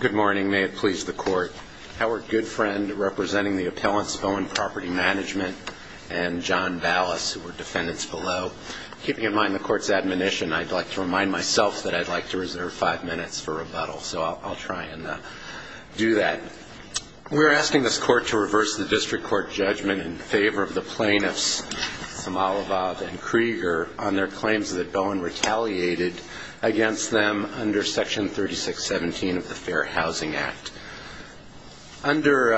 Good morning, may it please the court. Howard Goodfriend, representing the appellants Bowen Property Management and John Ballas, who are defendants below. Keeping in mind the court's admonition, I'd like to remind myself that I'd like to reserve five minutes for rebuttal, so I'll try and do that. We're asking this court to reverse the district court judgment in favor of the plaintiffs, Somalabad and Krieger, on their claims that Bowen retaliated against them under section 3617 of the Fair Housing Act. Under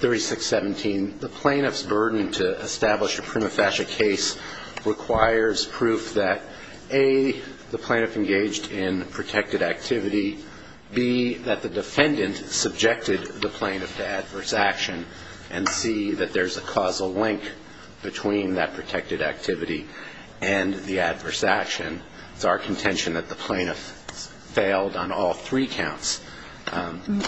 3617, the plaintiff's burden to establish a prima facie case requires proof that, a, the plaintiff engaged in protected activity, b, that the defendant subjected the plaintiff to adverse action, and c, that there's a causal link between that protected activity and the adverse action. It's our contention that the plaintiff failed on all three counts.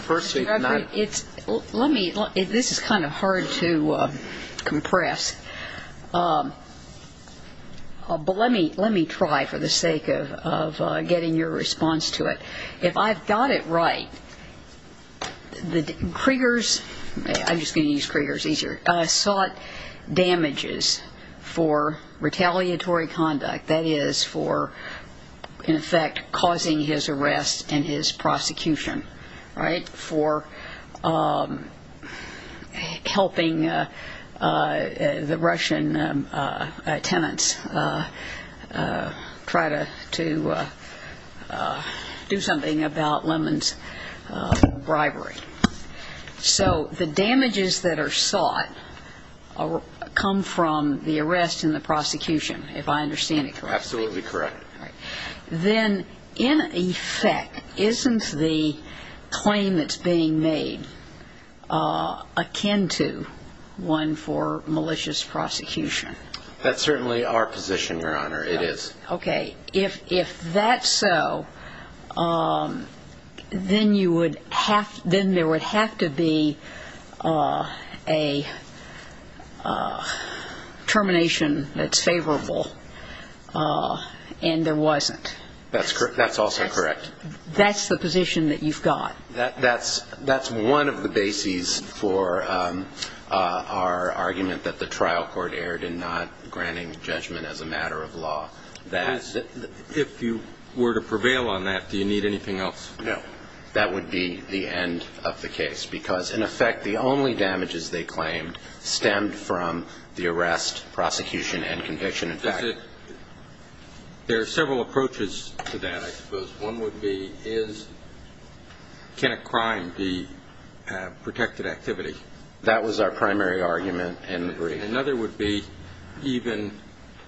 First, we've not ---- Let me, this is kind of hard to compress, but let me try for the sake of getting your response to it. If I've got it right, Krieger's, I'm just going to use Krieger's easier, sought damages for retaliatory conduct, that is for, in effect, causing his arrest and his prosecution, right? For helping the Russian tenants try to do something about Lemon's bribery. So the damages that are sought come from the arrest and the prosecution, if I understand it correctly. Absolutely correct. Then, in effect, isn't the claim that's being made akin to one for malicious prosecution? That's certainly our position, Your Honor, it is. Okay, if that's so, then you would have, then there would have to be a termination that's favorable, and there wasn't. That's also correct. That's the position that you've got. That's one of the bases for our argument that the trial court erred in not granting judgment as a matter of law. If you were to prevail on that, do you need anything else? No. That would be the end of the case, because, in effect, the only damages they claimed stemmed from the arrest, prosecution, and conviction. There are several approaches to that, I suppose. One would be, can a crime be protected activity? That was our primary argument in the brief. Another would be, even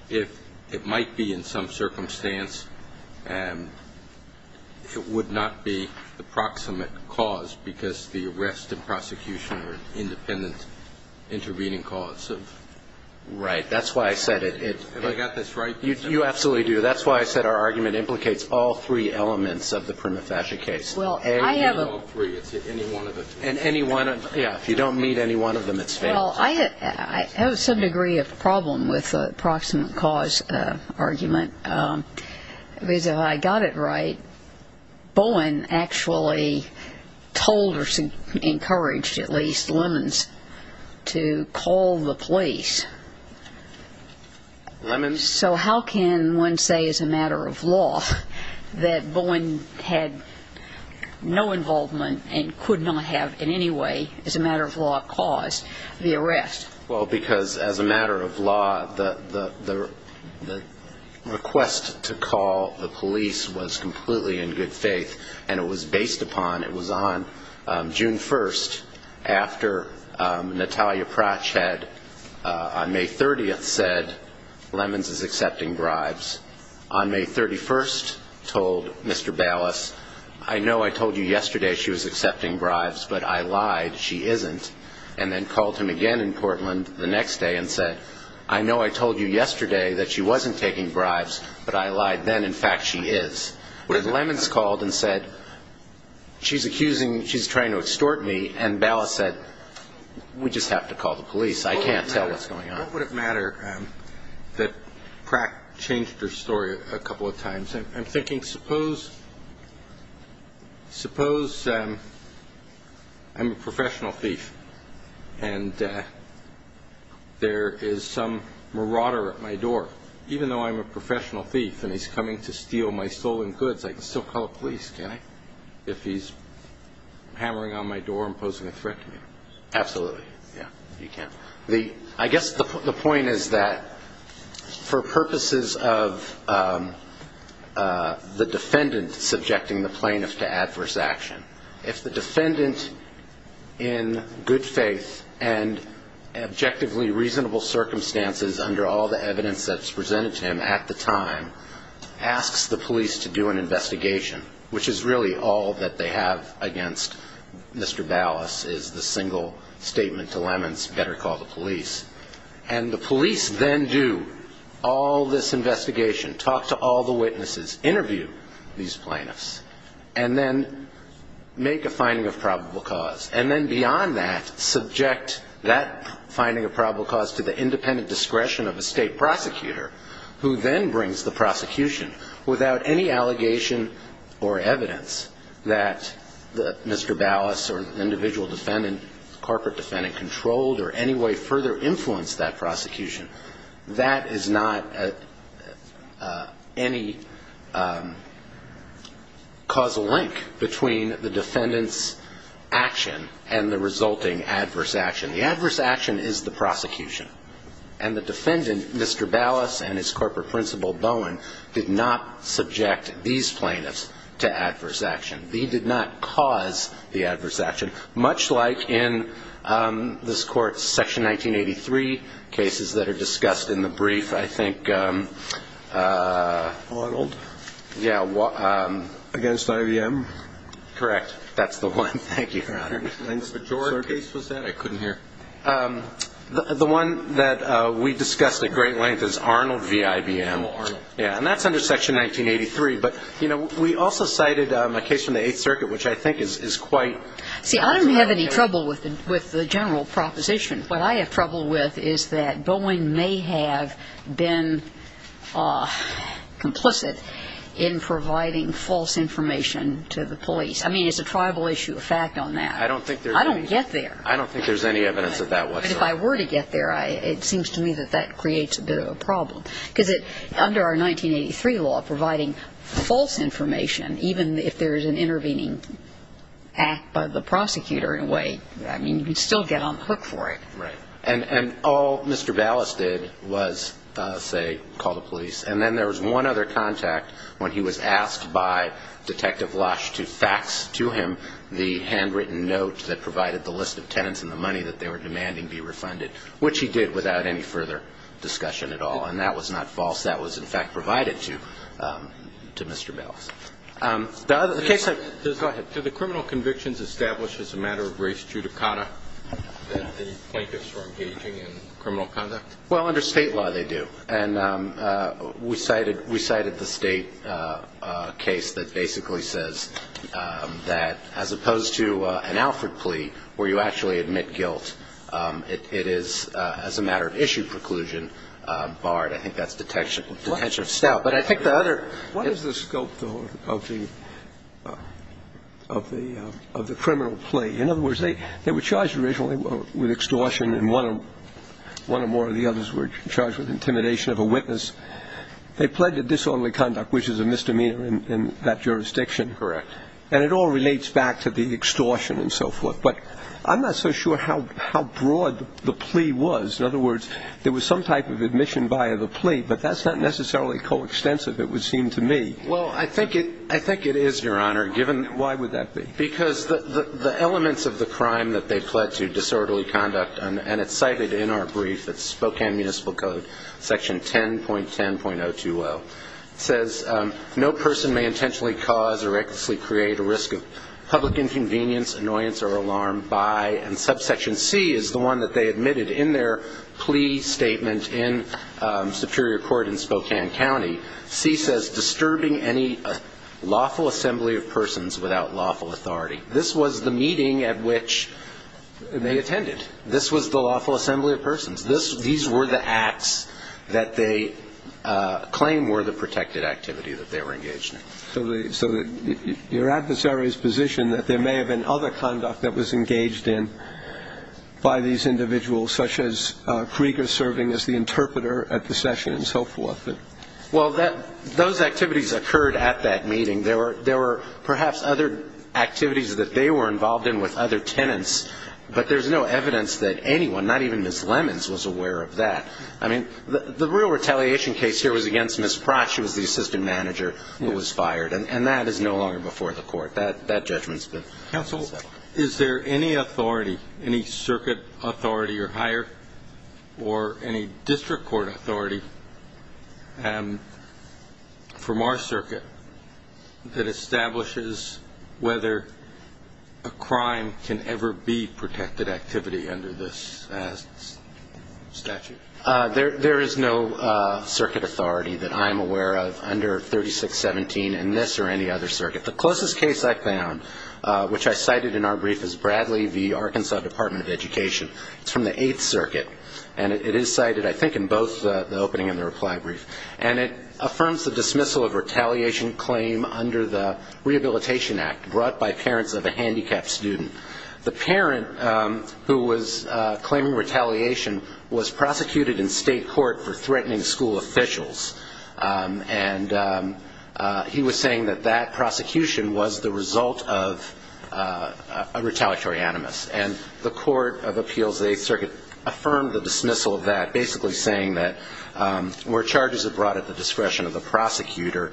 if it might be in some circumstance, it would not be the proximate cause, because the arrest and prosecution are independent intervening causes. Right. That's why I said it. Have I got this right? You absolutely do. That's why I said our argument implicates all three elements of the prima facie case. Well, I have a ---- Any of all three. It's any one of the two. And any one of them. Yeah. If you don't meet any one of them, it's failed. Well, I have some degree of problem with the proximate cause argument, because if I got it right, Bowen actually told or encouraged at least Lemons to call the police. Lemons? So how can one say as a matter of law that Bowen had no involvement and could not have in any way as a matter of law caused the arrest? Well, because as a matter of law, the request to call the police was completely in good faith, and it was based upon, it was on June 1st, after Natalia Pratchett on May 30th said, Lemons is accepting bribes. On May 31st, told Mr. Ballas, I know I told you yesterday she was accepting bribes, but I lied. She isn't. And then called him again in Portland the next day and said, I know I told you yesterday that she wasn't taking bribes, but I lied then. In fact, she is. But if Lemons called and said, she's accusing, she's trying to extort me, and Ballas said, we just have to call the police. I can't tell what's going on. What would it matter that Pratchett changed her story a couple of times? I'm thinking, suppose I'm a professional thief and there is some marauder at my door. Even though I'm a professional thief and he's coming to steal my stolen goods, I can still call the police, can't I, if he's hammering on my door and posing a threat to me? Absolutely. Yeah, you can. I guess the point is that for purposes of the defendant subjecting the plaintiff to adverse action, if the defendant in good faith and objectively reasonable circumstances under all the evidence that's presented to him at the time asks the police to do an investigation, which is really all that they have against Mr. Ballas, is the single statement to Lemons, better call the police. And the police then do all this investigation, talk to all the witnesses, interview these plaintiffs, and then make a finding of probable cause, and then beyond that subject that finding of probable cause to the independent discretion of a state prosecutor, who then brings the prosecution without any allegation or evidence that Mr. Ballas or an individual defendant, corporate defendant, controlled or any way further influenced that prosecution, that is not any causal link between the defendant's action and the resulting adverse action. The adverse action is the prosecution. And the defendant, Mr. Ballas and his corporate principal, Bowen, did not subject these plaintiffs to adverse action. He did not cause the adverse action. Much like in this Court's Section 1983 cases that are discussed in the brief, I think. Arnold? Yeah. Against IBM? Correct. That's the one. Thank you, Your Honor. The majority case was that? I couldn't hear. The one that we discussed at great length is Arnold v. IBM. Oh, Arnold. Yeah, and that's under Section 1983. But, you know, we also cited a case from the Eighth Circuit, which I think is quite... See, I don't have any trouble with the general proposition. What I have trouble with is that Bowen may have been complicit in providing false information to the police. I mean, it's a tribal issue, a fact on that. I don't think there's any... I don't get there. I don't think there's any evidence of that whatsoever. But if I were to get there, it seems to me that that creates a bit of a problem. Because under our 1983 law, providing false information, even if there is an intervening act by the prosecutor in a way, I mean, you can still get on the hook for it. Right. And all Mr. Ballas did was, say, call the police. And then there was one other contact when he was asked by Detective Lush to fax to him the handwritten note that provided the list of tenants and the money that they were demanding be refunded, which he did without any further discussion at all. And that was not false. That was, in fact, provided to Mr. Ballas. The other case I... Go ahead. Do the criminal convictions establish as a matter of race judicata that the Plaintiffs were engaging in criminal conduct? Well, under State law they do. And we cited the State case that basically says that as opposed to an Alfred plea where you actually admit guilt, it is as a matter of issue preclusion barred. I think that's detention of staff. But I think the other... What is the scope of the criminal plea? In other words, they were charged originally with extortion, and one or more of the others were charged with intimidation of a witness. They pled to disorderly conduct, which is a misdemeanor in that jurisdiction. Correct. And it all relates back to the extortion and so forth. But I'm not so sure how broad the plea was. In other words, there was some type of admission via the plea, but that's not necessarily coextensive, it would seem to me. Well, I think it is, Your Honor. Given... Why would that be? Because the elements of the crime that they pled to disorderly conduct, and it's cited in our brief, it's Spokane Municipal Code, Section 10.10.020. It says, No person may intentionally cause or recklessly create a risk of public inconvenience, annoyance, or alarm by... And Subsection C is the one that they admitted in their plea statement in Superior Court in Spokane County. C says, Disturbing any lawful assembly of persons without lawful authority. This was the meeting at which they attended. This was the lawful assembly of persons. These were the acts that they claimed were the protected activity that they were engaged in. So your adversary's position that there may have been other conduct that was engaged in by these individuals, such as Krieger serving as the interpreter at the session and so forth. Well, those activities occurred at that meeting. There were perhaps other activities that they were involved in with other tenants, but there's no evidence that anyone, not even Ms. Lemons, was aware of that. I mean, the real retaliation case here was against Ms. Pratt. She was the assistant manager who was fired, and that is no longer before the court. That judgment's been settled. Counsel, is there any authority, any circuit authority or higher, from our circuit that establishes whether a crime can ever be protected activity under this statute? There is no circuit authority that I'm aware of under 3617 in this or any other circuit. The closest case I found, which I cited in our brief, is Bradley v. Arkansas Department of Education. It's from the Eighth Circuit, and it is cited, I think, in both the opening and the reply brief. And it affirms the dismissal of retaliation claim under the Rehabilitation Act brought by parents of a handicapped student. The parent who was claiming retaliation was prosecuted in state court for threatening school officials, and he was saying that that prosecution was the result of a retaliatory animus. And the Court of Appeals of the Eighth Circuit affirmed the dismissal of that, basically saying that where charges are brought at the discretion of the prosecutor,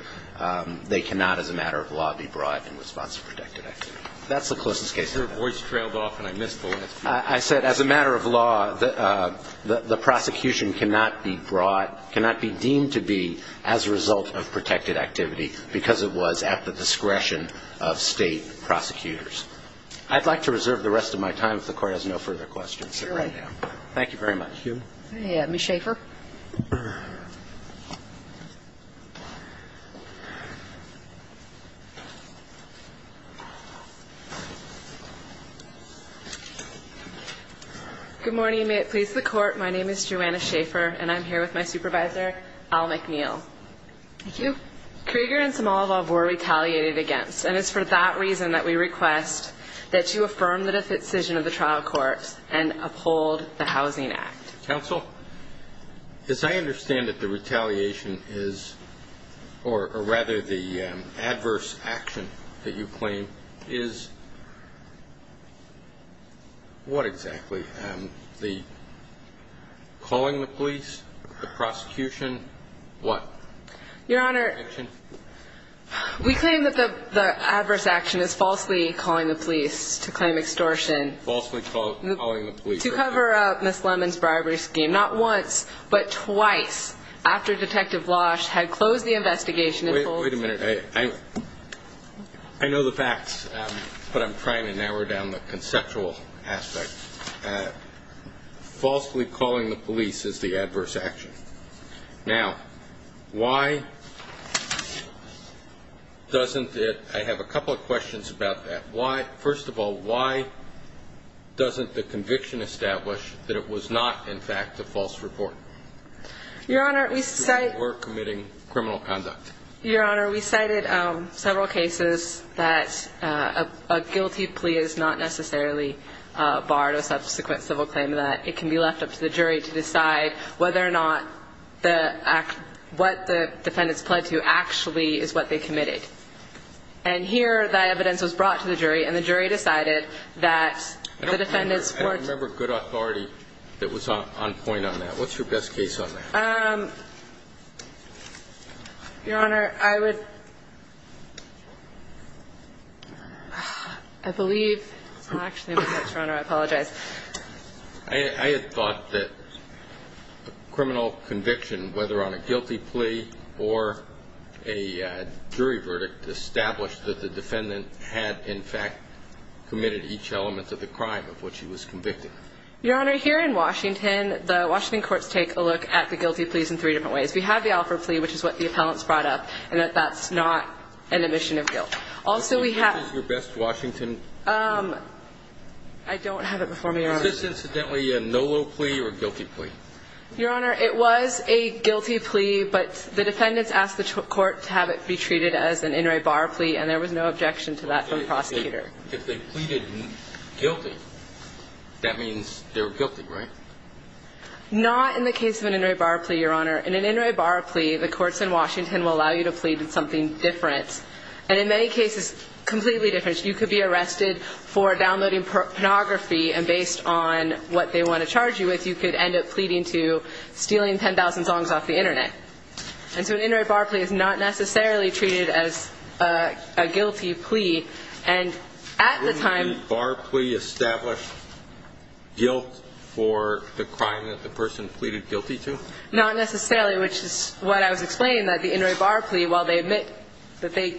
they cannot as a matter of law be brought in response to protected activity. That's the closest case I have. Your voice trailed off, and I missed the last piece. I said as a matter of law, the prosecution cannot be brought, cannot be deemed to be as a result of protected activity because it was at the discretion of state prosecutors. I'd like to reserve the rest of my time if the Court has no further questions. All right. Thank you very much. Thank you. Ms. Schaefer. Good morning, and may it please the Court. My name is Joanna Schaefer, and I'm here with my supervisor, Al McNeil. Thank you. Krieger and Samalov were retaliated against, and it's for that reason that we request that you affirm the decision of the trial courts and uphold the Housing Act. Counsel, as I understand it, the retaliation is, or rather the adverse action that you claim, is what exactly? The calling the police, the prosecution, what action? We claim that the adverse action is falsely calling the police, to claim extortion. Falsely calling the police. To cover up Ms. Lemon's bribery scheme, not once, but twice, after Detective Losh had closed the investigation. Wait a minute. I know the facts, but I'm trying to narrow down the conceptual aspect. Falsely calling the police is the adverse action. Now, why doesn't it, I have a couple of questions about that. First of all, why doesn't the conviction establish that it was not, in fact, a false report? Your Honor, we cited. We're committing criminal conduct. Your Honor, we cited several cases that a guilty plea is not necessarily barred, but it can be left up to the jury to decide whether or not what the defendants pled to actually is what they committed. And here, that evidence was brought to the jury, and the jury decided that the defendants were. I don't remember good authority that was on point on that. What's your best case on that? Your Honor, I would. I believe. Actually, Your Honor, I apologize. I had thought that criminal conviction, whether on a guilty plea or a jury verdict, established that the defendant had, in fact, committed each element of the crime of which he was convicted. Your Honor, here in Washington, the Washington courts take a look at the guilty pleas in three different ways. We have the Alford plea, which is what the appellants brought up, and that that's not an admission of guilt. Also, we have. Which is your best Washington? I don't have it before me, Your Honor. Is this, incidentally, a NOLO plea or a guilty plea? Your Honor, it was a guilty plea, but the defendants asked the court to have it be treated as an in re bar plea, and there was no objection to that from the prosecutor. If they pleaded guilty, that means they're guilty, right? Not in the case of an in re bar plea, Your Honor. In an in re bar plea, the courts in Washington will allow you to plead in something different, and in many cases, completely different. You could be arrested for downloading pornography, and based on what they want to charge you with, you could end up pleading to stealing 10,000 songs off the Internet. And so an in re bar plea is not necessarily treated as a guilty plea, and at the time. Would a bar plea establish guilt for the crime that the person pleaded guilty to? Not necessarily, which is what I was explaining, that the in re bar plea, while they admit that they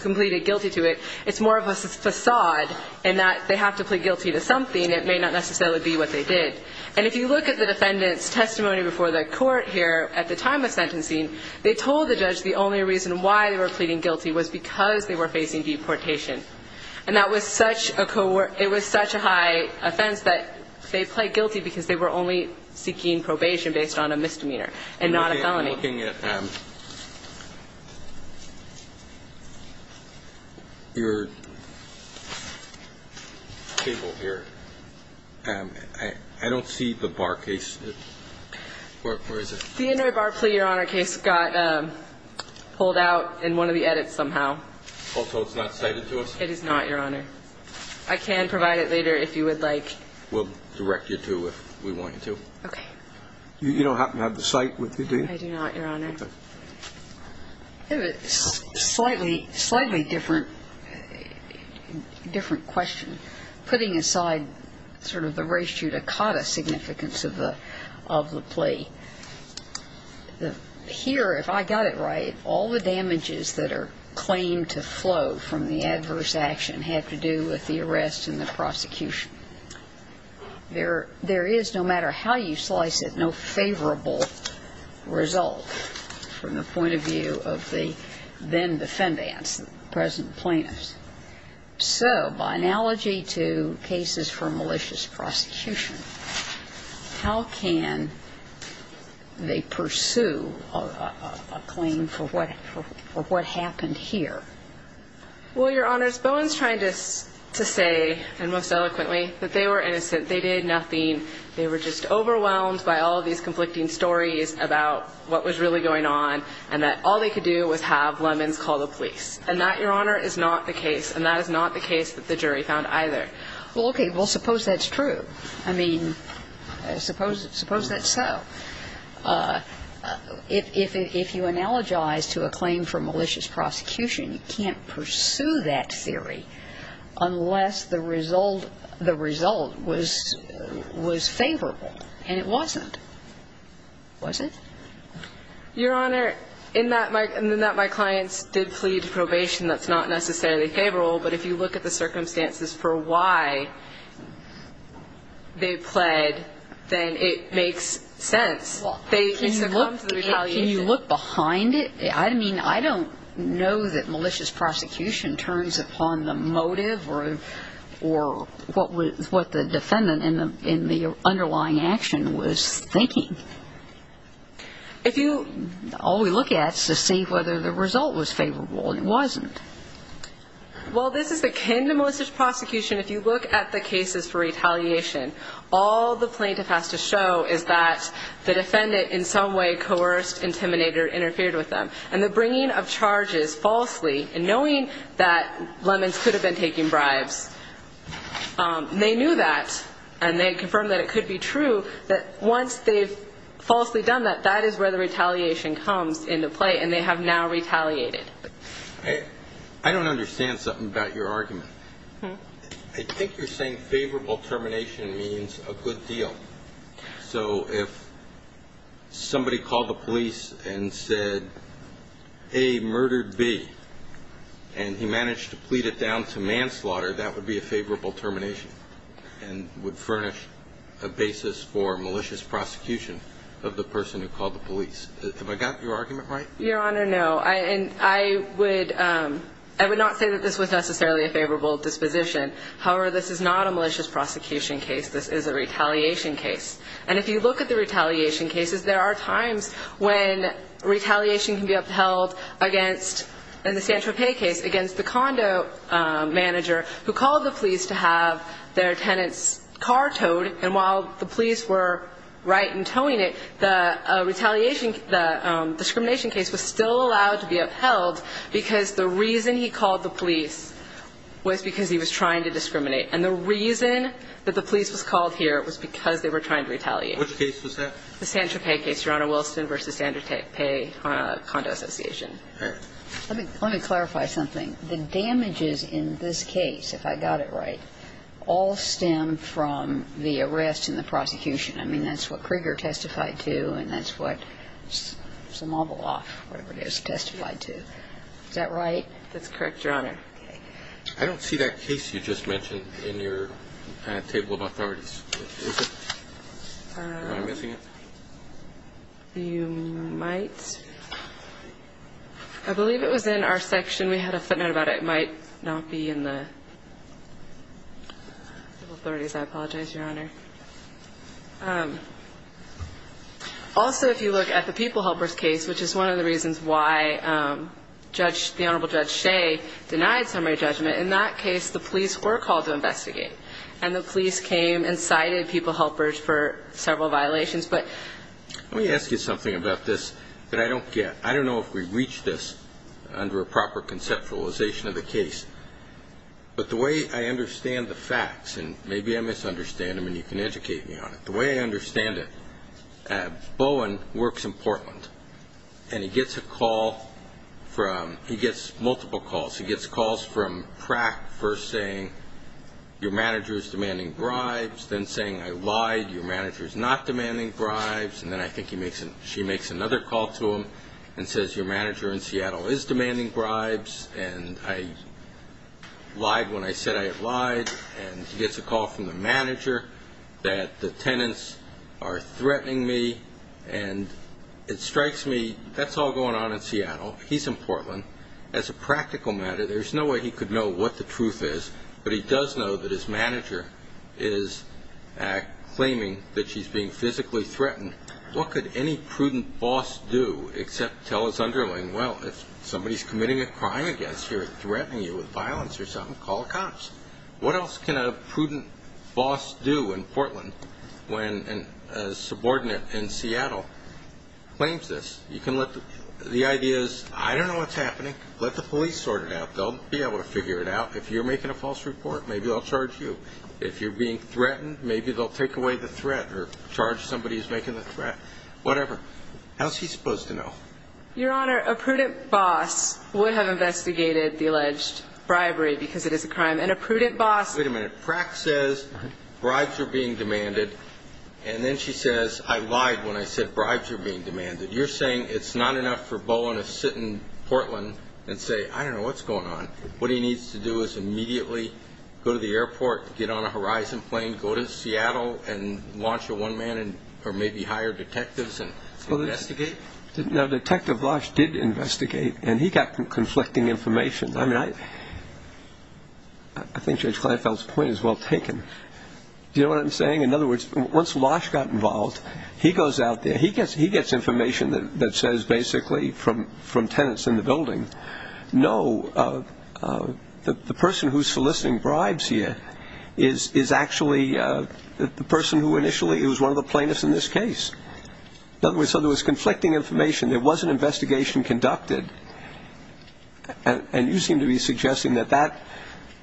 completed guilty to it, it's more of a facade in that they have to plead guilty to something. It may not necessarily be what they did. And if you look at the defendant's testimony before the court here at the time of sentencing, they told the judge the only reason why they were pleading guilty was because they were facing deportation. And that was such a high offense that they pled guilty because they were only seeking probation based on a misdemeanor and not a felony. I'm looking at your table here. I don't see the bar case. Where is it? The in re bar plea, Your Honor, case got pulled out in one of the edits somehow. Also it's not cited to us? It is not, Your Honor. I can provide it later if you would like. We'll direct you to if we want you to. Okay. You don't happen to have the cite with you, do you? I do not, Your Honor. It's a slightly different question. Putting aside sort of the res judicata significance of the plea, here, if I got it right, all the damages that are claimed to flow from the adverse action have to do with the arrest and the prosecution. There is, no matter how you slice it, no favorable result from the point of view of the then defendants, the present plaintiffs. So by analogy to cases for malicious prosecution, how can they pursue a claim for what happened here? Well, Your Honors, Bowen's trying to say, and most eloquently, that they were innocent. They did nothing. They were just overwhelmed by all of these conflicting stories about what was really going on and that all they could do was have Lemons call the police. And that, Your Honor, is not the case. And that is not the case that the jury found either. Well, okay. Well, suppose that's true. I mean, suppose that's so. If you analogize to a claim for malicious prosecution, you can't pursue that theory unless the result was favorable, and it wasn't. Was it? Your Honor, in that my clients did plead probation, that's not necessarily favorable. But if you look at the circumstances for why they pled, then it makes sense. They succumb to the retaliation. Can you look behind it? I mean, I don't know that malicious prosecution turns upon the motive or what the defendant in the underlying action was thinking. If you – All we look at is to see whether the result was favorable, and it wasn't. Well, this is akin to malicious prosecution. If you look at the cases for retaliation, all the plaintiff has to show is that the defendant in some way coerced, intimidated, or interfered with them. And the bringing of charges falsely, and knowing that Lemons could have been taking bribes, they knew that, and they confirmed that it could be true, that once they've falsely done that, that is where the retaliation comes into play, and they have now retaliated. I don't understand something about your argument. I think you're saying favorable termination means a good deal. So if somebody called the police and said, A, murdered B, and he managed to plead it down to manslaughter, that would be a favorable termination and would furnish a basis for malicious prosecution of the person who called the police. Have I got your argument right? Your Honor, no. And I would not say that this was necessarily a favorable disposition. However, this is not a malicious prosecution case. This is a retaliation case. And if you look at the retaliation cases, there are times when retaliation can be upheld against, in the San Tropez case, against the condo manager who called the police to have their tenant's car towed, and while the police were right in towing it, the retaliation, the discrimination case was still allowed to be upheld because the reason he called the police was because he was trying to discriminate. And the reason that the police was called here was because they were trying to retaliate. Which case was that? The San Tropez case, Your Honor, Wilson v. San Tropez Condo Association. All right. Let me clarify something. The damages in this case, if I got it right, all stem from the arrest and the prosecution. I mean, that's what Krieger testified to, and that's what Zimovalov, whatever it is, testified to. Is that right? That's correct, Your Honor. Okay. I don't see that case you just mentioned in your table of authorities. Is it? Am I missing it? You might. I believe it was in our section. We had a footnote about it. It might not be in the table of authorities. I apologize, Your Honor. Also, if you look at the people helpers case, which is one of the reasons why Judge the Honorable Judge Shea denied summary judgment, in that case, the police were called to investigate. And the police came and cited people helpers for several violations. But let me ask you something about this that I don't get. I don't know if we reached this under a proper conceptualization of the case. But the way I understand the facts, and maybe I misunderstand them and you can educate me on it. The way I understand it, Bowen works in Portland, and he gets a call from, he gets multiple calls. He gets calls from Pratt first saying, your manager is demanding bribes, then saying, I lied, your manager is not demanding bribes. And then I think she makes another call to him and says, your manager in Seattle is demanding bribes, and I lied when I said I had lied. And he gets a call from the manager that the tenants are threatening me, and it strikes me, that's all going on in Seattle. He's in Portland. As a practical matter, there's no way he could know what the truth is. But he does know that his manager is claiming that she's being physically threatened. What could any prudent boss do except tell his underling, well, if somebody's committing a crime against you or threatening you with violence or something, call the cops. What else can a prudent boss do in Portland when a subordinate in Seattle claims this? You can let the ideas, I don't know what's happening, let the police sort it out. They'll be able to figure it out. If you're making a false report, maybe they'll charge you. If you're being threatened, maybe they'll take away the threat or charge somebody who's making the threat, whatever. How is he supposed to know? Your Honor, a prudent boss would have investigated the alleged bribery because it is a crime. And a prudent boss ---- Wait a minute. Pratt says bribes are being demanded, and then she says, I lied when I said bribes are being demanded. You're saying it's not enough for Bowen to sit in Portland and say, I don't know what's going on. What he needs to do is immediately go to the airport, get on a Horizon plane, go to Seattle and launch a one-man or maybe hire detectives and investigate. No, Detective Losh did investigate, and he got conflicting information. I mean, I think Judge Kleinfeld's point is well taken. Do you know what I'm saying? In other words, once Losh got involved, he goes out there, he gets information that says basically from tenants in the building, no, the person who's soliciting bribes here is actually the person who initially was one of the plaintiffs in this case. In other words, so there was conflicting information. There was an investigation conducted, and you seem to be suggesting that that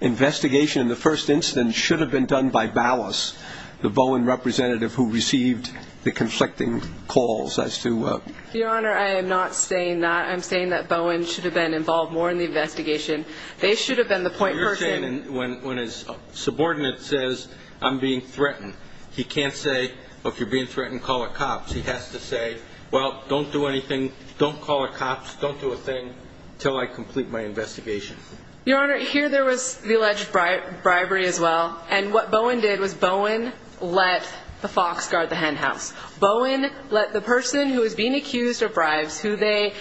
investigation in the first instance should have been done by Ballas, the Bowen representative who received the conflicting calls as to ---- Your Honor, I am not saying that. I'm saying that Bowen should have been involved more in the investigation. They should have been the point person. You're saying when his subordinate says, I'm being threatened, he can't say, well, if you're being threatened, call the cops. He has to say, well, don't do anything. Don't call the cops. Don't do a thing until I complete my investigation. Your Honor, here there was the alleged bribery as well, and what Bowen did was Bowen let the fox guard the hen house. Bowen let the person who was being accused of bribes, who they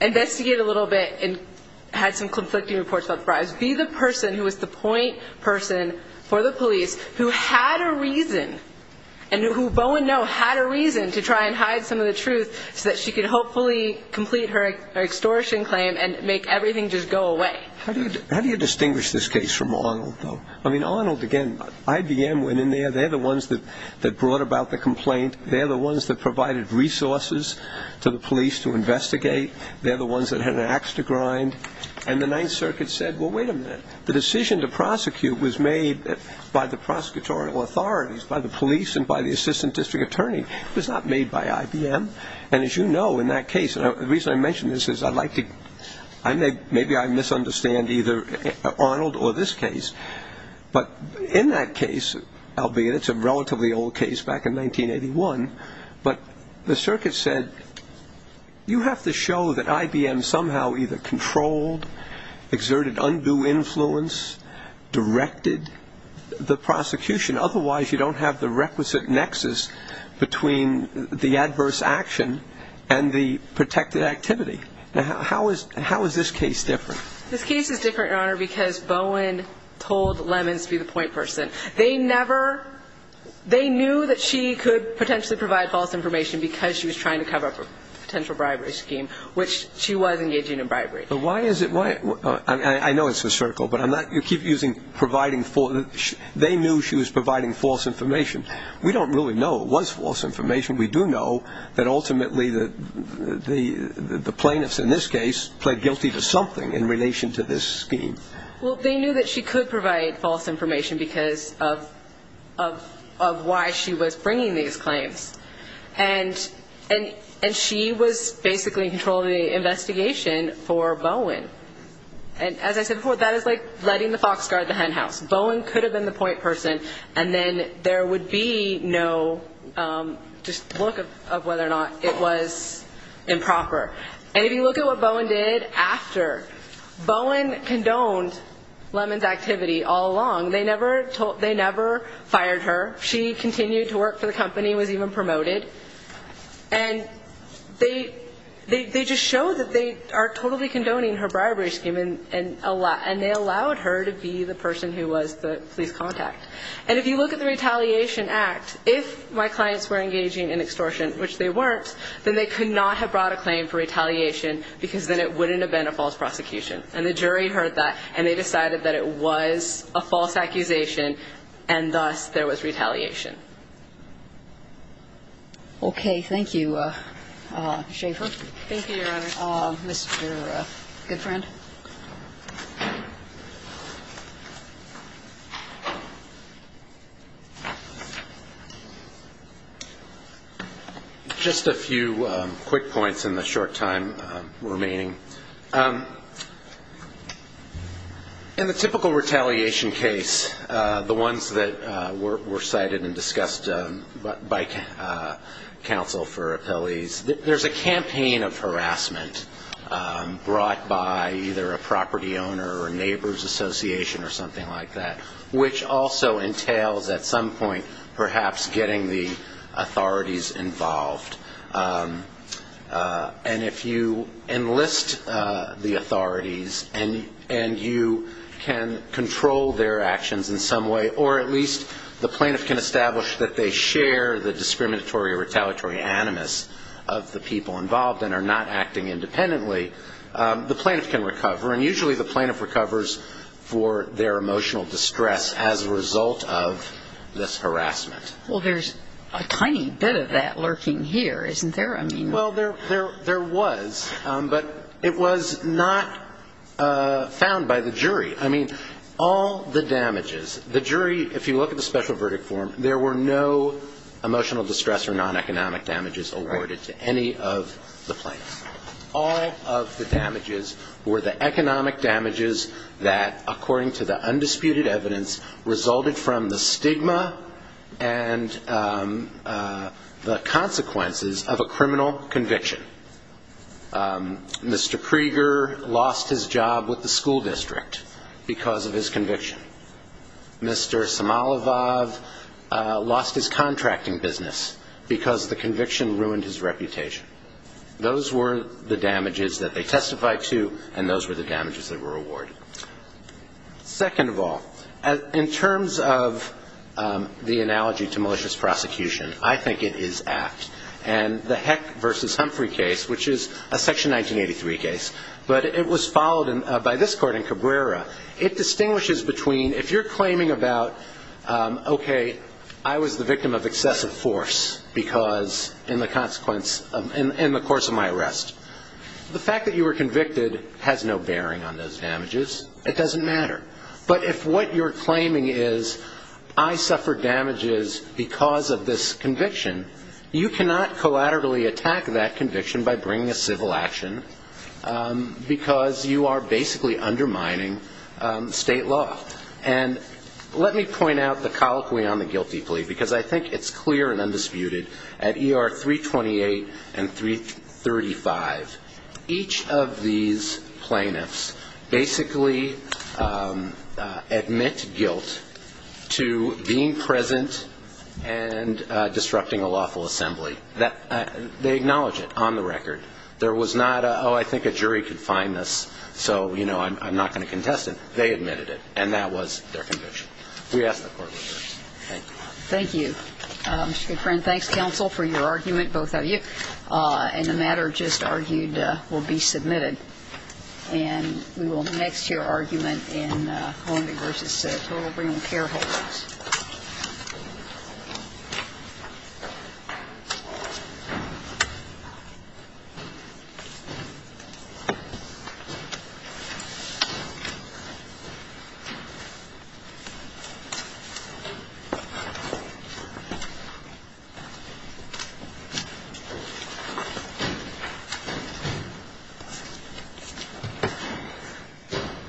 investigated a little bit and had some conflicting reports about the bribes, be the person who was the point person for the police who had a reason, and who Bowen know had a reason to try and hide some of the truth so that she could hopefully complete her extortion claim and make everything just go away. How do you distinguish this case from Arnold, though? I mean, Arnold, again, IBM went in there. They're the ones that brought about the complaint. They're the ones that provided resources to the police to investigate. They're the ones that had an ax to grind. And the Ninth Circuit said, well, wait a minute. The decision to prosecute was made by the prosecutorial authorities, by the police and by the assistant district attorney. It was not made by IBM, and as you know, in that case, and the reason I mention this is I'd like to maybe I misunderstand either Arnold or this case, but in that case, albeit it's a relatively old case back in 1981, but the circuit said you have to show that IBM somehow either controlled, exerted undue influence, directed the prosecution. Otherwise, you don't have the requisite nexus between the adverse action and the protected activity. Now, how is this case different? This case is different, Your Honor, because Bowen told Lemons to be the point person. They never ñ they knew that she could potentially provide false information because she was trying to cover a potential bribery scheme, which she was engaging in bribery. But why is it ñ I know it's a circle, but I'm not ñ you keep using providing ñ they knew she was providing false information. We don't really know it was false information. We do know that ultimately the plaintiffs in this case pled guilty to something in relation to this scheme. Well, they knew that she could provide false information because of why she was bringing these claims. And she was basically controlling the investigation for Bowen. And as I said before, that is like letting the fox guard the hen house. Bowen could have been the point person, and then there would be no just look of whether or not it was improper. And if you look at what Bowen did after, Bowen condoned Lemons' activity all along. They never fired her. She continued to work for the company, was even promoted. And they just showed that they are totally condoning her bribery scheme, and they allowed her to be the person who was the police contact. And if you look at the Retaliation Act, if my clients were engaging in extortion, which they weren't, then they could not have brought a claim for retaliation because then it wouldn't have been a false prosecution. And the jury heard that, and they decided that it was a false accusation, and thus there was retaliation. Okay. Thank you, Schaefer. Thank you, Your Honor. Mr. Goodfriend. Thank you. Just a few quick points in the short time remaining. In the typical retaliation case, the ones that were cited and discussed by counsel for appellees, there's a campaign of harassment brought by either a property owner or a neighbor's association or something like that, which also entails at some point perhaps getting the authorities involved. And if you enlist the authorities and you can control their actions in some way, or at least the plaintiff can establish that they share the discriminatory or retaliatory animus of the people involved and are not acting independently, the plaintiff can recover. And usually the plaintiff recovers for their emotional distress as a result of this harassment. Well, there's a tiny bit of that lurking here, isn't there? Well, there was, but it was not found by the jury. I mean, all the damages, the jury, if you look at the special verdict form, there were no emotional distress or non-economic damages awarded to any of the plaintiffs. All of the damages were the economic damages that, according to the undisputed evidence, resulted from the stigma and the consequences of a criminal conviction. Mr. Krieger lost his job with the school district because of his conviction. Mr. Samalov lost his contracting business because the conviction ruined his reputation. Those were the damages that they testified to, and those were the damages that were awarded. Second of all, in terms of the analogy to malicious prosecution, I think it is apt. And the Heck v. Humphrey case, which is a Section 1983 case, but it was followed by this court in Cabrera, it distinguishes between if you're claiming about, okay, I was the victim of excessive force in the course of my arrest, the fact that you were convicted has no bearing on those damages. It doesn't matter. But if what you're claiming is I suffered damages because of this conviction, you cannot collaterally attack that conviction by bringing a civil action because you are basically undermining state law. And let me point out the colloquy on the guilty plea, because I think it's clear and undisputed. Each of these plaintiffs basically admit guilt to being present and disrupting a lawful assembly. They acknowledge it on the record. There was not a, oh, I think a jury could find this, so, you know, I'm not going to contest it. They admitted it, and that was their conviction. We asked the court to do this. Thank you. Thank you. Mr. Goodfriend, thanks, counsel, for your argument, both of you. And the matter just argued will be submitted. And we will next hear argument in Columbia v. Total Brain Care Holdings. Thank you.